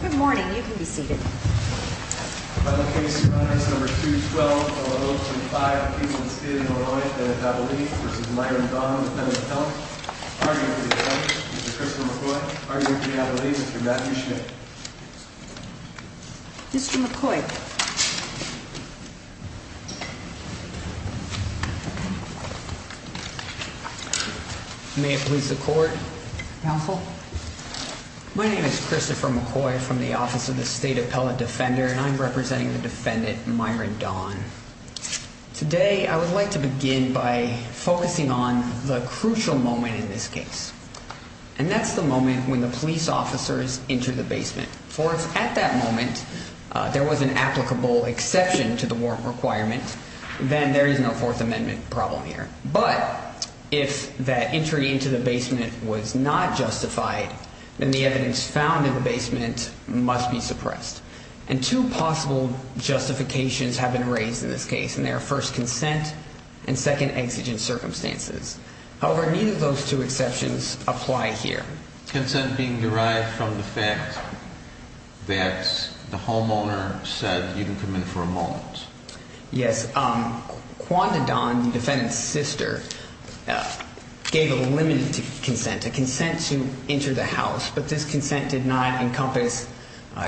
Good morning. You can be seated. Final case. Five. Mr McCoy. May it please the court. Counsel. My name is Christopher McCoy from the Office of the State Appellate Defender, and I'm representing the defendant Myron Dawn. Today, I would like to begin by focusing on the crucial moment in this case, and that's the moment when the police officers into the basement for at that moment, there was an applicable exception to the warrant requirement. Then there is no Fourth Amendment problem here. But if that entry into the basement was not justified, then the evidence found in the basement must be suppressed and two possible justifications have been raised in this case, and their first consent and second exigent circumstances. However, neither of those two exceptions apply here. Consent being derived from the fact that the homeowner said you can come in for a moment. Yes, um, wanted on the defendant's sister gave a limited consent to consent to enter the house. But this consent did not encompass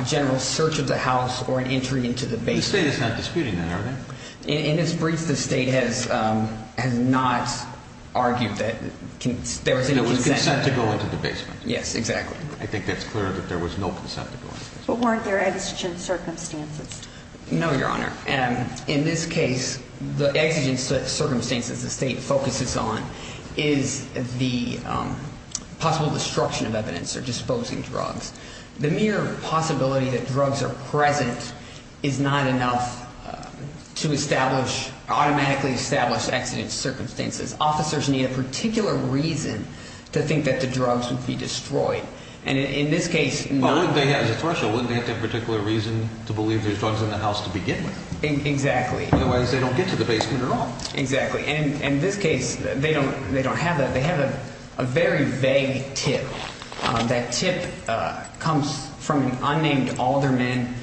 general search of the house or an entry into the base. The state is not disputing that, are they? In its brief, the state has has not argued that there was consent to go into the basement. Yes, exactly. I think that's clear that there was no consent. But weren't there exigent circumstances? No, Your Honor. And in this case, the exigent circumstances the state focuses on is the possible destruction of evidence or disposing drugs. The mere possibility that drugs are present is not enough to establish automatically established exigent circumstances. Officers need a particular reason to think that the drugs would be destroyed. And in this case, they have the threshold. Particular reason to believe there's drugs in the house to begin with. Exactly. Otherwise, they don't get to the basement at all. Exactly. And in this case, they don't. They don't have that. They have a very vague tip. That tip comes from an unnamed alderman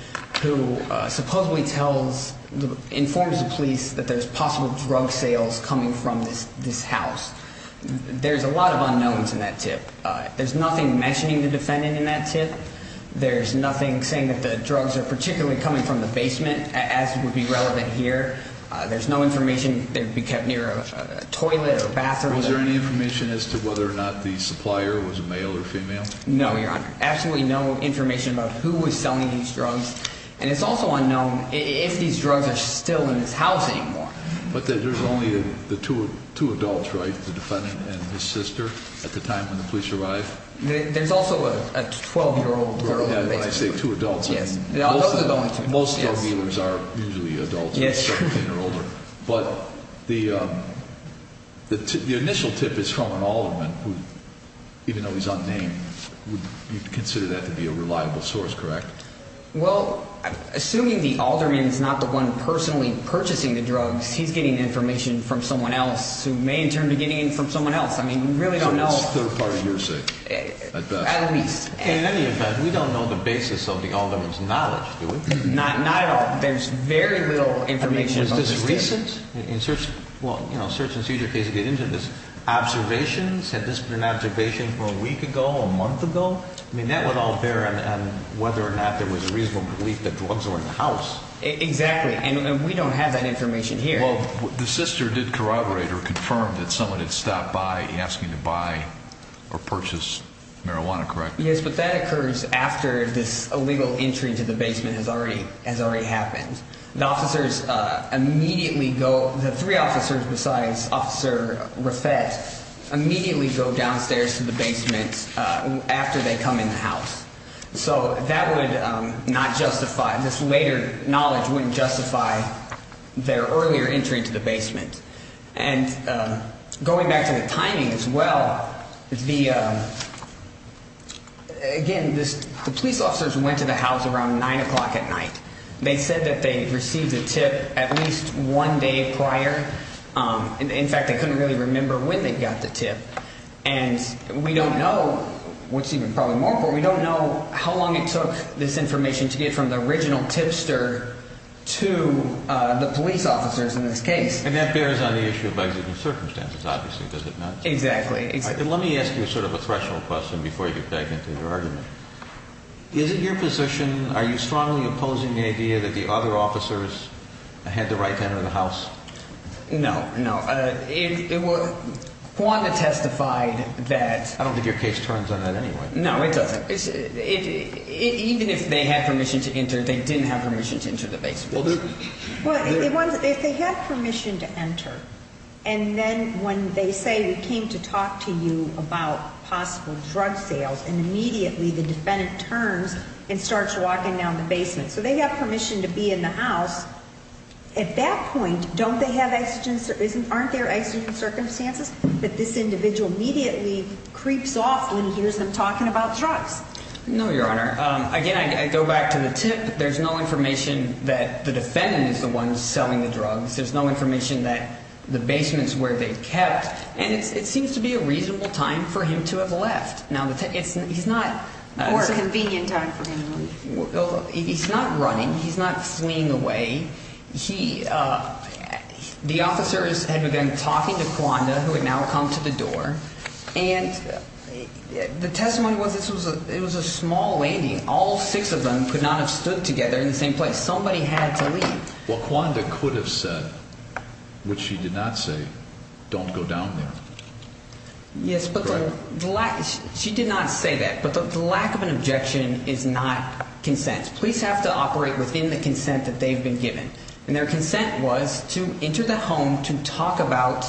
who supposedly tells the informs the police that there's possible drug sales coming from this house. There's a lot of unknowns in that tip. There's nothing mentioning the defendant in that tip. There's nothing saying that the drugs are particularly coming from the basement, as would be relevant here. There's no information that would be kept near a toilet or bathroom. Was there any information as to whether or not the supplier was a male or female? No, Your Honor. Absolutely no information about who was selling these drugs. And it's also unknown if these drugs are still in this house anymore. But there's only the two adults, right? The defendant and his sister at the time when the police arrived. There's also a 12-year-old girl. When I say two adults, most drug dealers are usually adults, but the initial tip is from an alderman, even though he's unnamed, you'd consider that to be a reliable source, correct? Well, assuming the alderman is not the one personally purchasing the drugs, he's getting information from someone else who may in turn be getting it from someone else. I mean, we really don't know. Well, that's a third part of your saying, at best. At least. In any event, we don't know the basis of the alderman's knowledge, do we? Not at all. There's very little information about this. I mean, was this recent? Well, you know, search and seizure cases get into this. Observations? Had this been an observation from a week ago, a month ago? I mean, that would all bear on whether or not there was a reasonable belief that drugs were in the house. Exactly. And we don't have that information here. Well, the sister did corroborate or confirm that someone had stopped by asking to buy or purchase marijuana, correct? Yes, but that occurs after this illegal entry to the basement has already happened. The officers immediately go, the three officers besides Officer Rafet, immediately go downstairs to the basement after they come in the house. So that would not justify, this later knowledge wouldn't justify their earlier entry to the basement. And going back to the timing as well, the, again, the police officers went to the house around 9 o'clock at night. They said that they received a tip at least one day prior. In fact, they couldn't really remember when they got the tip. And we don't know what's even probably more important. We don't know how long it took this information to get from the original tipster to the police officers in this case. And that bears on the issue of existing circumstances, obviously, does it not? Exactly. Let me ask you sort of a threshold question before you dive into your argument. Is it your position, are you strongly opposing the idea that the other officers had the right to enter the house? No, no. It was, Juanda testified that... I don't think your case turns on that anyway. No, it doesn't. Even if they had permission to enter, they didn't have permission to enter the basement. Well, if they had permission to enter, and then when they say we came to talk to you about possible drug sales, and immediately the defendant turns and starts walking down the basement. So they have permission to be in the house. At that point, don't they have, aren't there exigent circumstances that this individual immediately creeps off when he hears them talking about drugs? No, Your Honor. Again, I go back to the tip. There's no information that the defendant is the one selling the drugs. There's no information that the basement's where they kept. And it seems to be a reasonable time for him to have left. Now, he's not... Or a convenient time for him. He's not running. He's not fleeing away. The officers had begun talking to Juanda, who had now come to the door. And the testimony was it was a small landing. All six of them could not have stood together in the same place. Somebody had to leave. Well, Juanda could have said, which she did not say, don't go down there. Yes, but the lack... She did not say that. But the lack of an objection is not consent. Police have to operate within the consent that they've been given. And their consent was to enter the home to talk about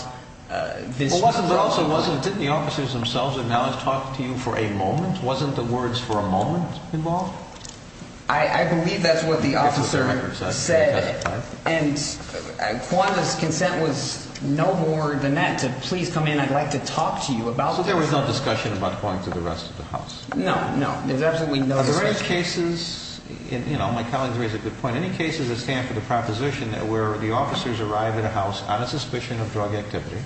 this... But also, didn't the officers themselves have now talked to you for a moment? Wasn't the words for a moment involved? I believe that's what the officer said. And Juanda's consent was no more than that, to please come in. I'd like to talk to you about this. So there was no discussion about going to the rest of the house? No, no. There's absolutely no discussion. Are there any cases... You know, my colleagues raise a good point. Any cases that stand for the proposition that where the officers arrive at a house on a suspicion of drug activity,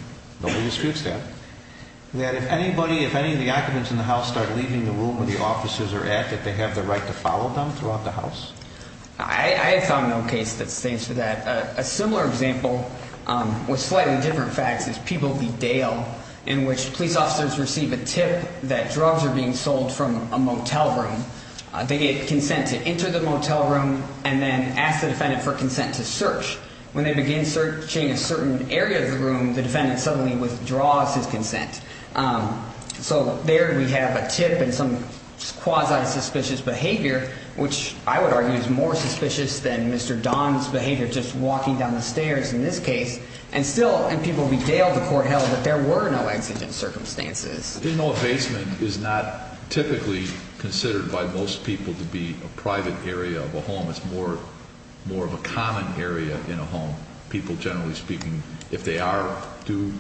nobody disputes that, that if anybody, if any of the occupants in the house start leaving the room where the officers are at, that they have the right to follow them throughout the house? I have found no case that stands for that. A similar example with slightly different facts is People v. Dale, in which police officers receive a tip that drugs are being sold from a motel room. They get consent to enter the motel room and then ask the defendant for consent to search. When they begin searching a certain area of the room, the defendant suddenly withdraws his consent. So there we have a tip and some quasi-suspicious behavior, which I would argue is more suspicious than Mr. Don's behavior, just walking down the stairs in this case. And still, in People v. Dale, the court held that there were no exigent circumstances. You know, a basement is not typically considered by most people to be a private area of a home. It's more of a common area in a home. People, generally speaking, if they do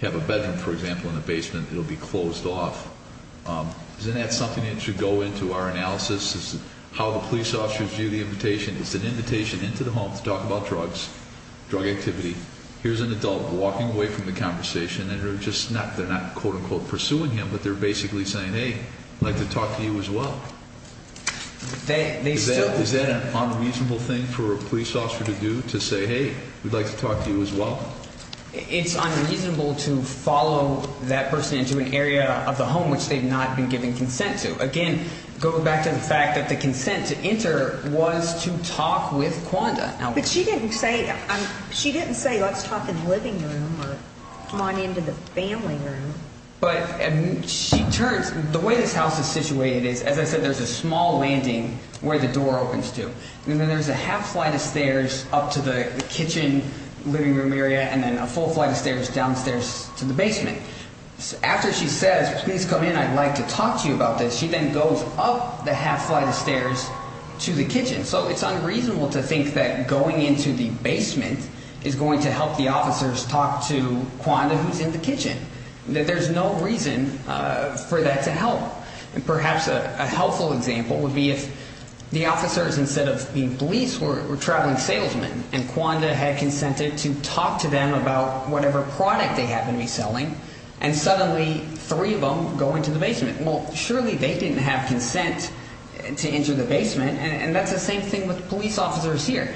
have a bedroom, for example, in a basement, it will be closed off. Isn't that something that should go into our analysis, how the police officers view the invitation? It's an invitation into the home to talk about drugs, drug activity. Here's an adult walking away from the conversation, and they're not, quote-unquote, pursuing him, but they're basically saying, hey, I'd like to talk to you as well. Is that an unreasonable thing for a police officer to do, to say, hey, we'd like to talk to you as well? It's unreasonable to follow that person into an area of the home which they've not been given consent to. Again, going back to the fact that the consent to enter was to talk with Quanda. But she didn't say, let's talk in the living room or come on into the family room. But she turns, the way this house is situated is, as I said, there's a small landing where the door opens to, and then there's a half flight of stairs up to the kitchen living room area, and after she says, please come in, I'd like to talk to you about this, she then goes up the half flight of stairs to the kitchen. So it's unreasonable to think that going into the basement is going to help the officers talk to Quanda, who's in the kitchen. There's no reason for that to help. Perhaps a helpful example would be if the officers, instead of the police, were traveling salesmen, and Quanda had consented to talk to them about whatever product they had been reselling, and suddenly three of them go into the basement. Well, surely they didn't have consent to enter the basement, and that's the same thing with police officers here.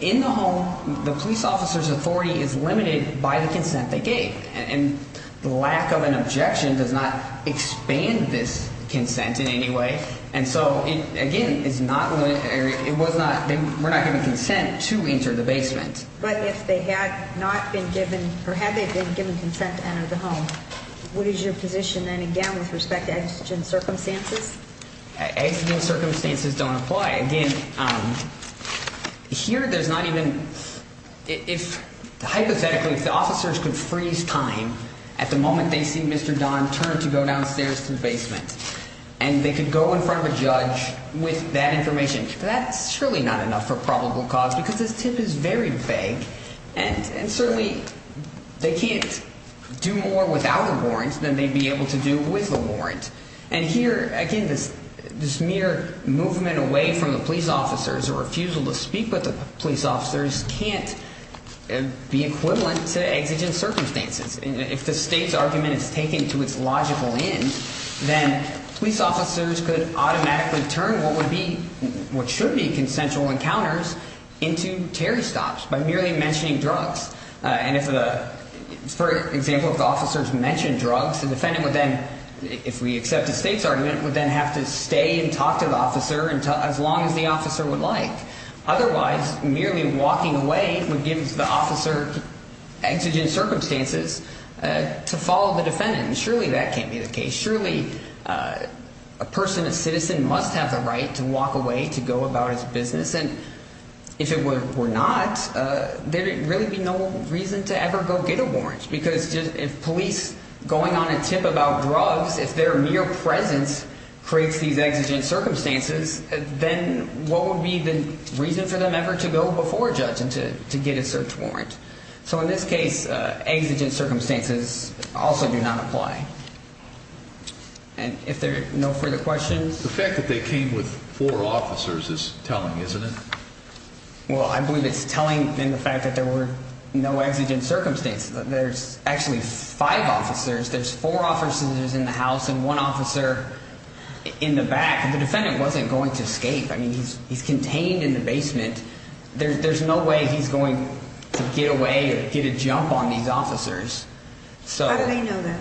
In the home, the police officer's authority is limited by the consent they gave. And the lack of an objection does not expand this consent in any way. And so, again, we're not giving consent to enter the basement. But if they had not been given, or had they been given consent to enter the home, what is your position then, again, with respect to exigent circumstances? Exigent circumstances don't apply. Again, here there's not even, hypothetically, if the officers could freeze time at the moment they see Mr. Don turn to go downstairs to the basement, and they could go in front of a judge with that information, that's surely not enough for probable cause, because this tip is very vague. And certainly, they can't do more without a warrant than they'd be able to do with a warrant. And here, again, this mere movement away from the police officers, or refusal to speak with the police officers, can't be equivalent to exigent circumstances. If the state's argument is taken to its logical end, then police officers could automatically turn what should be consensual encounters into Terry stops by merely mentioning drugs. And for example, if the officers mention drugs, the defendant would then, if we accept the state's argument, would then have to stay and talk to the officer as long as the officer would like. Otherwise, merely walking away would give the officer exigent circumstances to follow the defendant. And surely that can't be the case. Surely, a person, a citizen must have the right to walk away to go about his business. And if it were not, there'd really be no reason to ever go get a warrant. Because if police going on a tip about drugs, if their mere presence creates these exigent circumstances, then what would be the reason for them ever to go before a judge and to get a search warrant? So in this case, exigent circumstances also do not apply. And if there are no further questions... The fact that they came with four officers is telling, isn't it? Well, I believe it's telling in the fact that there were no exigent circumstances. There's actually five officers. There's four officers in the house and one officer in the back. And the defendant wasn't going to escape. I mean, he's contained in the basement. There's no way he's going to get away or get a jump on these officers. How do they know that?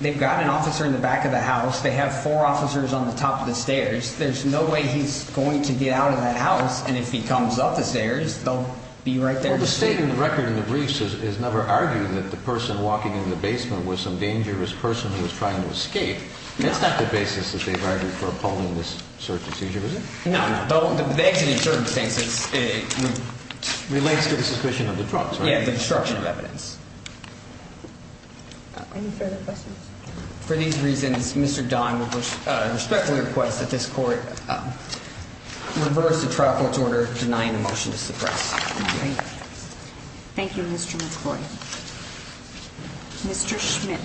They've got an officer in the back of the house. They have four officers on the top of the stairs. There's no way he's going to get out of that house. And if he comes up the stairs, they'll be right there to see him. Well, the state in the record in the briefs has never argued that the person walking in the basement was some dangerous person who was trying to escape. That's not the basis that they've argued for appalling this search and seizure, is it? No, no. The exigent circumstances relates to the suspicion of the trial. Yeah, the destruction of evidence. Any further questions? For these reasons, Mr. Don will respectfully request that this court reverse the trial court's order denying the motion to suppress. Thank you. Thank you, Mr. McCoy. Mr. Schmidt.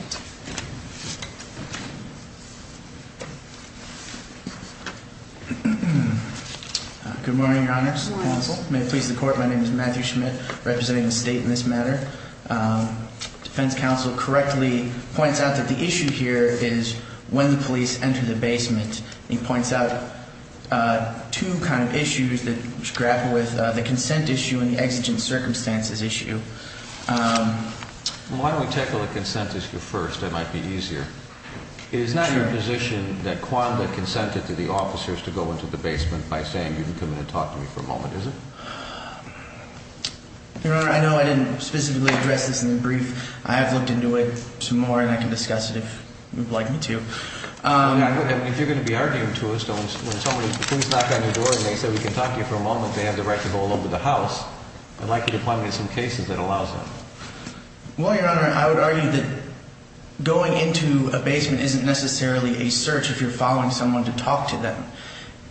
Good morning, Your Honor. Good morning, counsel. May it please the court, my name is Matthew Schmidt, representing the state in this matter. Defense counsel correctly points out that the issue here is when the police enter the basement. He points out two kind of issues that grapple with the consent issue and the exigent circumstances issue. Why don't we tackle the consent issue first? That might be easier. It is not your position that Quanda consented to the officers to go into the basement by saying, you can come in and talk to me for a moment, is it? Your Honor, I know I didn't specifically address this in the brief. I have looked into it some more and I can discuss it if you'd like me to. If you're going to be arguing to us, don't. When somebody, the police knock on your door and they say, we can talk to you for a moment, they have the right to go all over the house. I'd like you to find me some cases that allows that. Well, Your Honor, I would argue that going into a basement isn't necessarily a search if you're following someone to talk to them.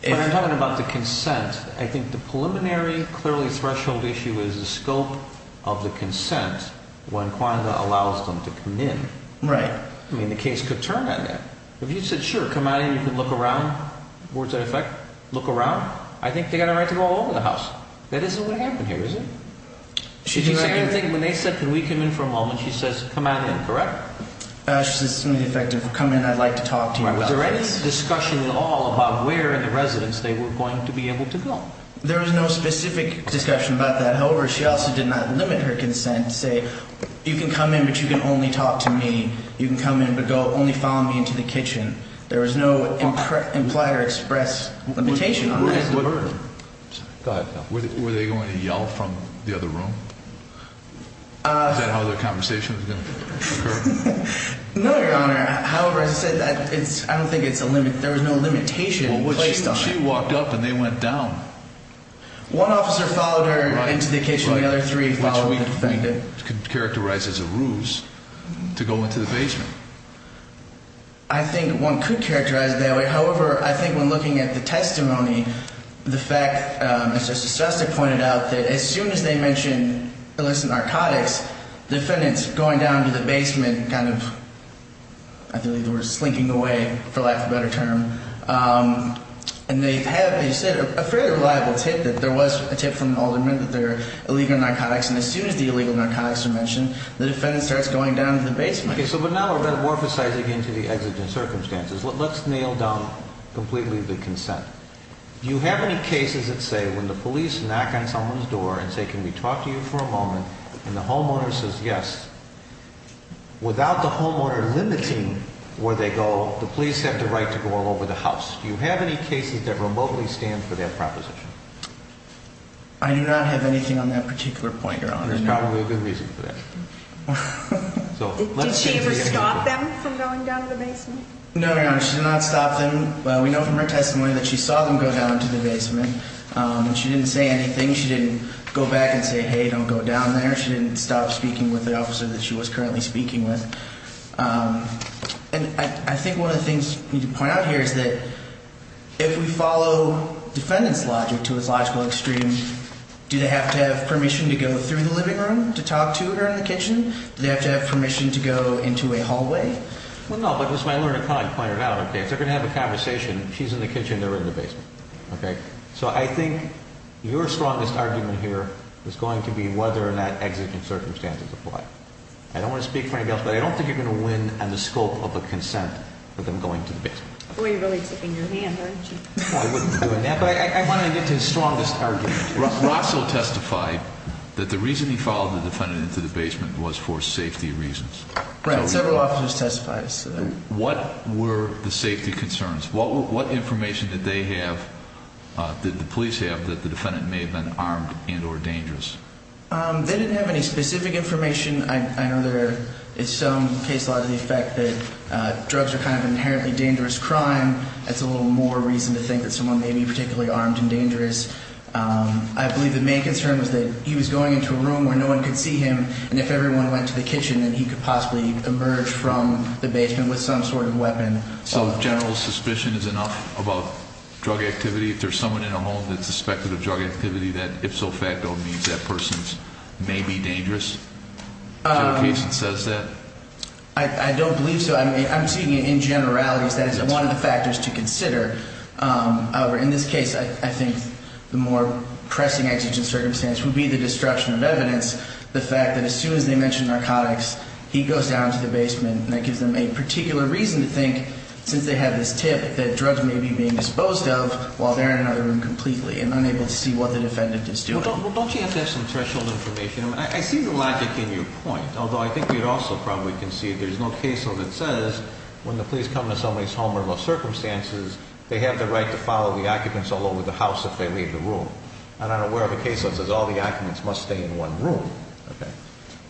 When I'm talking about the consent, I think the preliminary, clearly threshold issue is the scope of the consent when Quanda allows them to come in. Right. I mean, the case could turn on that. If you said, sure, come on in, you can look around, words that affect, look around, I think they've got a right to go all over the house. That isn't what happened here, is it? When they said, can we come in for a moment, she says, come on in, correct? She says it's only effective, come in, I'd like to talk to you. Was there any discussion at all about where in the residence they were going to be able to go? There was no specific discussion about that. However, she also did not limit her consent to say, you can come in, but you can only talk to me. You can come in, but only follow me into the kitchen. There was no implied or expressed limitation on that. Were they going to yell from the other room? Is that how their conversation was going to occur? No, Your Honor. However, as I said, I don't think there was no limitation placed on it. Well, she walked up and they went down. One officer followed her into the kitchen, the other three followed the defendant. Which we could characterize as a ruse to go into the basement. I think one could characterize it that way. However, I think when looking at the testimony, the fact, Mr. Shostak pointed out, that as soon as they mentioned illicit narcotics, the defendant's going down to the basement, kind of, I believe the word is slinking away, for lack of a better term. And they have, as you said, a fairly reliable tip that there was a tip from an alderman that there were illegal narcotics, and as soon as the illegal narcotics are mentioned, the defendant starts going down to the basement. Okay, so now we're metamorphosizing into the exigent circumstances. Let's nail down completely the consent. Do you have any cases that say, when the police knock on someone's door and say, can we talk to you for a moment, and the homeowner says yes, without the homeowner limiting where they go, the police have the right to go all over the house. Do you have any cases that remotely stand for that proposition? I do not have anything on that particular point, Your Honor. There's probably a good reason for that. Did she ever stop them from going down to the basement? No, Your Honor, she did not stop them. We know from her testimony that she saw them go down to the basement. She didn't say anything. She didn't go back and say, hey, don't go down there. She didn't stop speaking with the officer that she was currently speaking with. And I think one of the things we need to point out here is that if we follow defendant's logic to its logical extreme, do they have to have permission to go through the living room to talk to her in the kitchen? Do they have to have permission to go into a hallway? Well, no, but as my learned client pointed out, if they're going to have a conversation, she's in the kitchen, they're in the basement. So I think your strongest argument here is going to be whether or not exiting circumstances apply. I don't want to speak for anybody else, but I don't think you're going to win on the scope of a consent for them going to the basement. Boy, you're really ticking your hand, aren't you? I wouldn't be doing that, but I wanted to get to his strongest argument. Russell testified that the reason he followed the defendant into the basement was for safety reasons. Right, several officers testified. What were the safety concerns? What information did they have, did the police have, that the defendant may have been armed and or dangerous? They didn't have any specific information. I know there is some case law to the effect that drugs are kind of an inherently dangerous crime. That's a little more reason to think that someone may be particularly armed and dangerous. I believe the main concern was that he was going into a room where no one could see him and if everyone went to the kitchen, then he could possibly emerge from the basement with some sort of weapon. So general suspicion is enough about drug activity? If there's someone in a home that's suspected of drug activity, that ipso facto means that person may be dangerous? Is there a case that says that? I don't believe so. I'm seeing it in generalities. That is one of the factors to consider. However, in this case, I think the more pressing exigent circumstance would be the destruction of evidence. The fact that as soon as they mention narcotics, he goes down to the basement. That gives them a particular reason to think, since they have this tip, that drugs may be being disposed of while they're in another room completely and unable to see what the defendant is doing. Don't you have to have some threshold information? I see the logic in your point. Although I think we also probably can see there's no case that says when the police come to somebody's home under those circumstances, they have the right to follow the occupants all over the house if they leave the room. I'm not aware of a case that says all the occupants must stay in one room.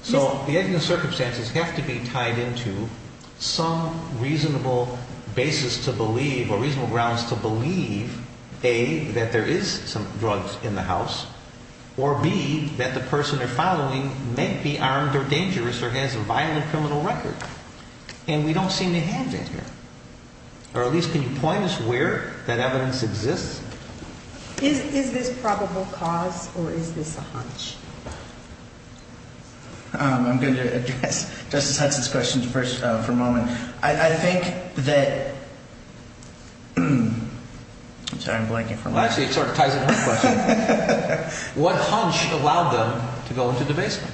So the circumstances have to be tied into some reasonable basis to believe or reasonable grounds to believe or B, that the person they're following may be armed or dangerous or has a violent criminal record. And we don't seem to have that here. Or at least, can you point us where that evidence exists? Is this probable cause or is this a hunch? I'm going to address Justice Hudson's question for a moment. I think that I'm sorry, I'm blanking for a moment. Actually, it sort of ties into her question. What hunch allowed them to go into the basement?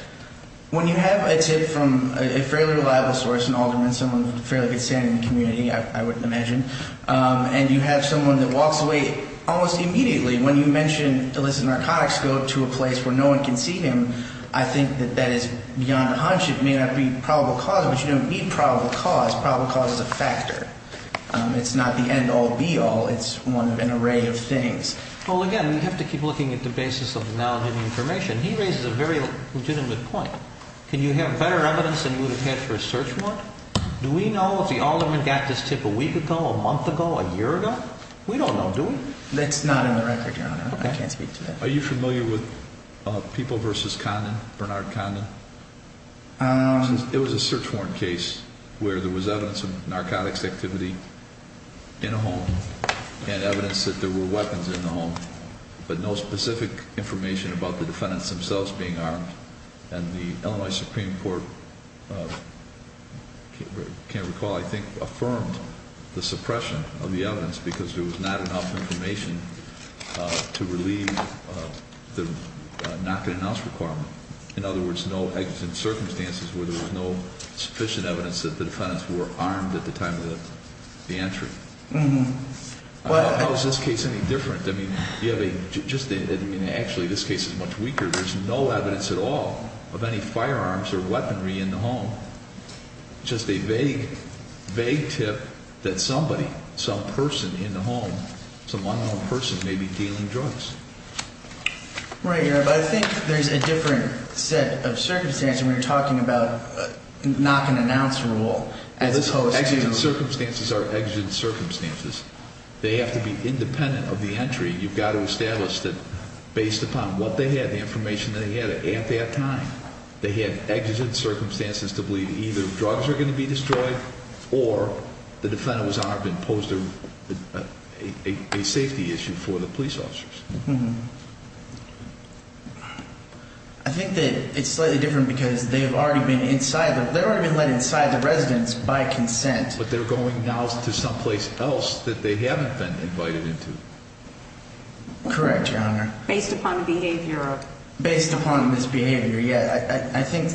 When you have a tip from a fairly reliable source, an alderman, someone with a fairly good standing in the community, I wouldn't imagine, and you have someone that walks away almost immediately when you mention illicit narcotics, go to a place where no one can see him, I think that that is beyond a hunch. It may not be probable cause, but you don't need probable cause. Probable cause is a factor. It's not the end-all, be-all. It's an array of things. Well, again, we have to keep looking at the basis of the knowledge and the information. He raises a very legitimate point. Can you have better evidence than you would have had for a search warrant? Do we know if the alderman got this tip a week ago, a month ago, a year ago? We don't know, do we? That's not in the record, Your Honor. I can't speak to that. Are you familiar with People v. Condon, Bernard Condon? It was a search warrant case where there was evidence of narcotics activity in a home and evidence that there were weapons in the home, but no specific information about the defendants themselves being armed. And the Illinois Supreme Court, I can't recall, I think, affirmed the suppression of the evidence because there was not enough information to relieve the knock-and-announce requirement. In other words, no evidence in circumstances where there was no sufficient evidence that the defendants were armed at the time of the entry. How is this case any different? I mean, you have a... Actually, this case is much weaker. There's no evidence at all of any firearms or weaponry in the home. Just a vague, vague tip that somebody, some person in the home, some unknown person, may be dealing drugs. Right, Your Honor, but I think there's a different set of circumstances when you're talking about knock-and-announce rule as opposed to... Exigent circumstances are exigent circumstances. They have to be independent of the entry. You've got to establish that, based upon what they had, the information they had at that time, they had exigent circumstances to believe either drugs are going to be destroyed or the defendant was armed and posed a safety issue for the police officers. I think that it's slightly different because they've already been inside the... But they're going now to someplace else that they haven't been invited into. Correct, Your Honor. Based upon the behavior of... Based upon this behavior, yeah. I think...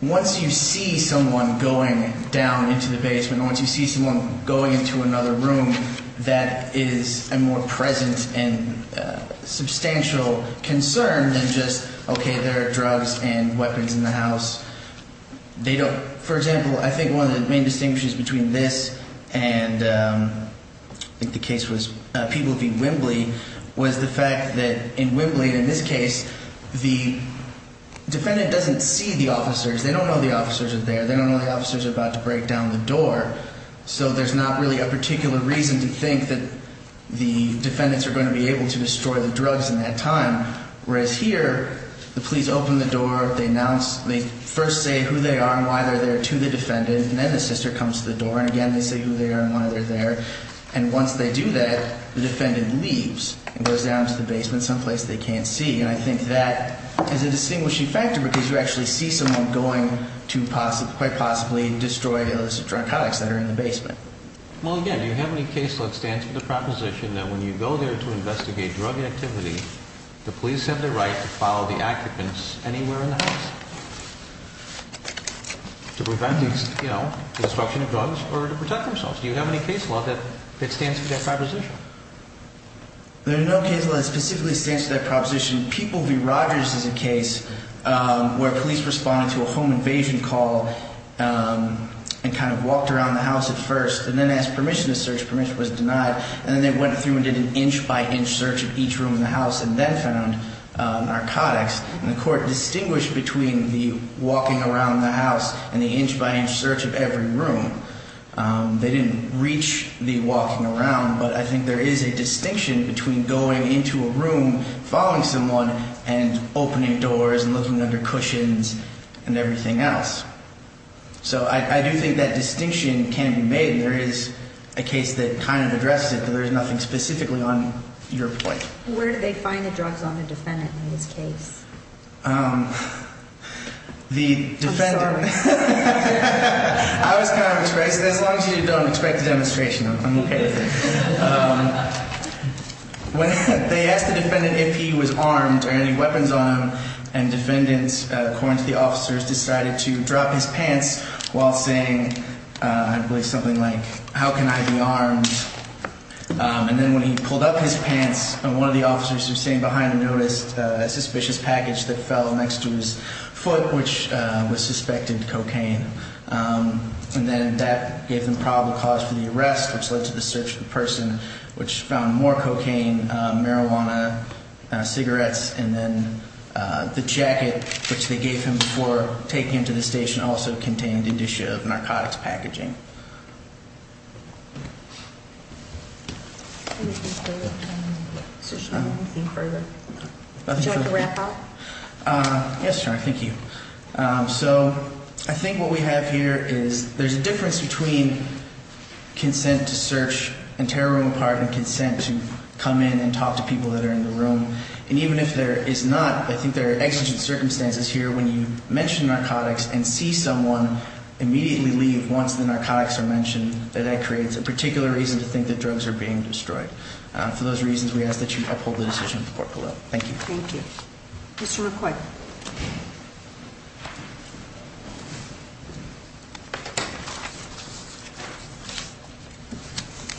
Once you see someone going down into the basement, once you see someone going into another room that is a more present and substantial concern than just, okay, there are drugs and weapons in the house. They don't... For example, I think one of the main distinguishes between this and I think the case was People v. Wembley was the fact that in Wembley, in this case, the defendant doesn't see the officers. They don't know the officers are there. They don't know the officers are about to break down the door. So there's not really a particular reason to think that the defendants are going to be able to destroy the drugs in that time. Whereas here, the police open the door, they announce, they first say who they are and why they're there to the defendant and then the sister comes to the door and again they say who they are and why they're there and once they do that, the defendant leaves and goes down to the basement someplace they can't see and I think that is a distinguishing factor because you actually see someone going to quite possibly destroy those narcotics that are in the basement. Well, again, do you have any case that stands for the proposition that when you go there to investigate drug activity, the police have the right to follow the occupants anywhere in the house to prevent destruction of drugs or to protect themselves. Do you have any case law that stands for that proposition? There's no case law that specifically stands for that proposition. People v. Rogers is a case where police responded to a home invasion call and kind of walked around the house at first and then asked permission to search. Permission was denied and then they went through and did an inch by inch search of each room in the house and then found narcotics and the court distinguished between the walking around the house and the inch by inch search of every room. They didn't reach the walking around but I think there is a distinction between going into a room following someone and opening doors and looking under cushions and everything else. So I do think that distinction can be made. There is a case that kind of addresses it but there's nothing specifically on your point. Where do they find the drugs on the defendant in this case? The defendant... I'm sorry. I was kind of surprised. As long as you don't expect a demonstration, I'm okay with it. They asked the defendant if he was armed or any weapons on him and defendants, according to the while saying I believe something like, how can I be armed? And then when he pulled up his pants, one of the officers who was sitting behind him noticed a suspicious package that fell next to his foot which was suspected cocaine. And then that gave them probable cause for the arrest which led to the search of the person which found more cocaine, marijuana, cigarettes and then the jacket which they gave him before taking him to the station also contained indicia of narcotics packaging. Anything further? Do you want to wrap up? Yes, thank you. So I think what we have here is there's a difference between consent to search and tear a room apart and consent to come in and talk to people that are in the room. And even if there is not, I think there are exigent circumstances here when you mention narcotics and see someone immediately leave once the narcotics are mentioned that creates a particular reason to think that drugs are being destroyed. For those reasons, we ask that you uphold the decision. Thank you. Mr. McCoy.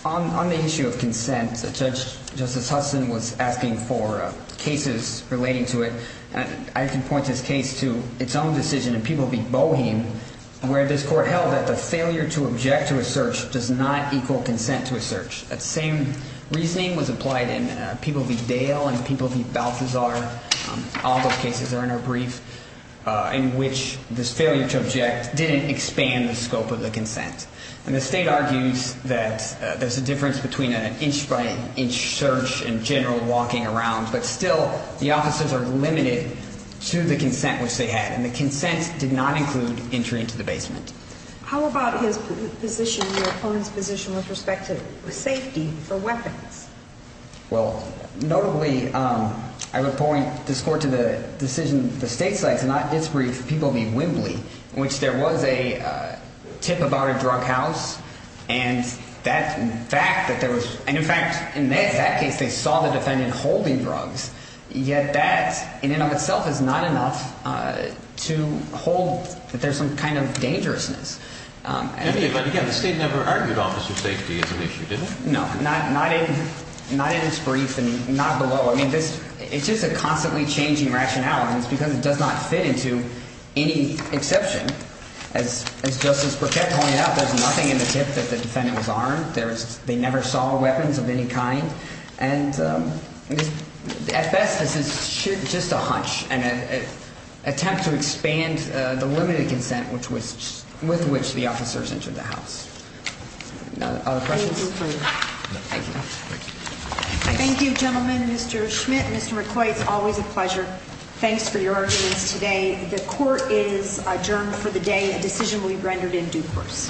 On the issue of consent Judge Justice Hudson was asking for cases relating to it. I can point this case to its own decision in People v. Boheme where this court held that the failure to object to a search does not equal consent to a search. That same reasoning was applied in People v. Dale and People v. Balthazar. All those cases are in our brief in which this failure to object didn't expand the scope of the consent. And the state argues that there's a difference between an inch by inch search and general walking around, but still the officers are limited to the consent which they had. And the consent did not How about his position, your opponent's position with respect to safety for weapons? Well, notably I would point this court to the decision, the state's side, to not disbrief People v. Wembley in which there was a tip about a drug house and that in fact that there was and in fact in that case they saw the defendant holding drugs, yet that in and of itself is not enough to hold that there's some kind of dangerousness. But again, the state never argued officer safety as an issue, did it? No, not in its brief and not below. It's just a constantly changing rationale and it's because it does not fit into any exception. As Justice Burkett pointed out, there's nothing in the tip that the defendant was armed. They never saw weapons of any kind and at best this is just a hunch and attempt to expand the limited consent with which the officers entered the house. Other questions? Thank you. Thank you, gentlemen. Mr. Schmidt, Mr. McCoy, it's always a pleasure. Thanks for your arguments today. The court is adjourned for the day. A decision will be rendered in due course.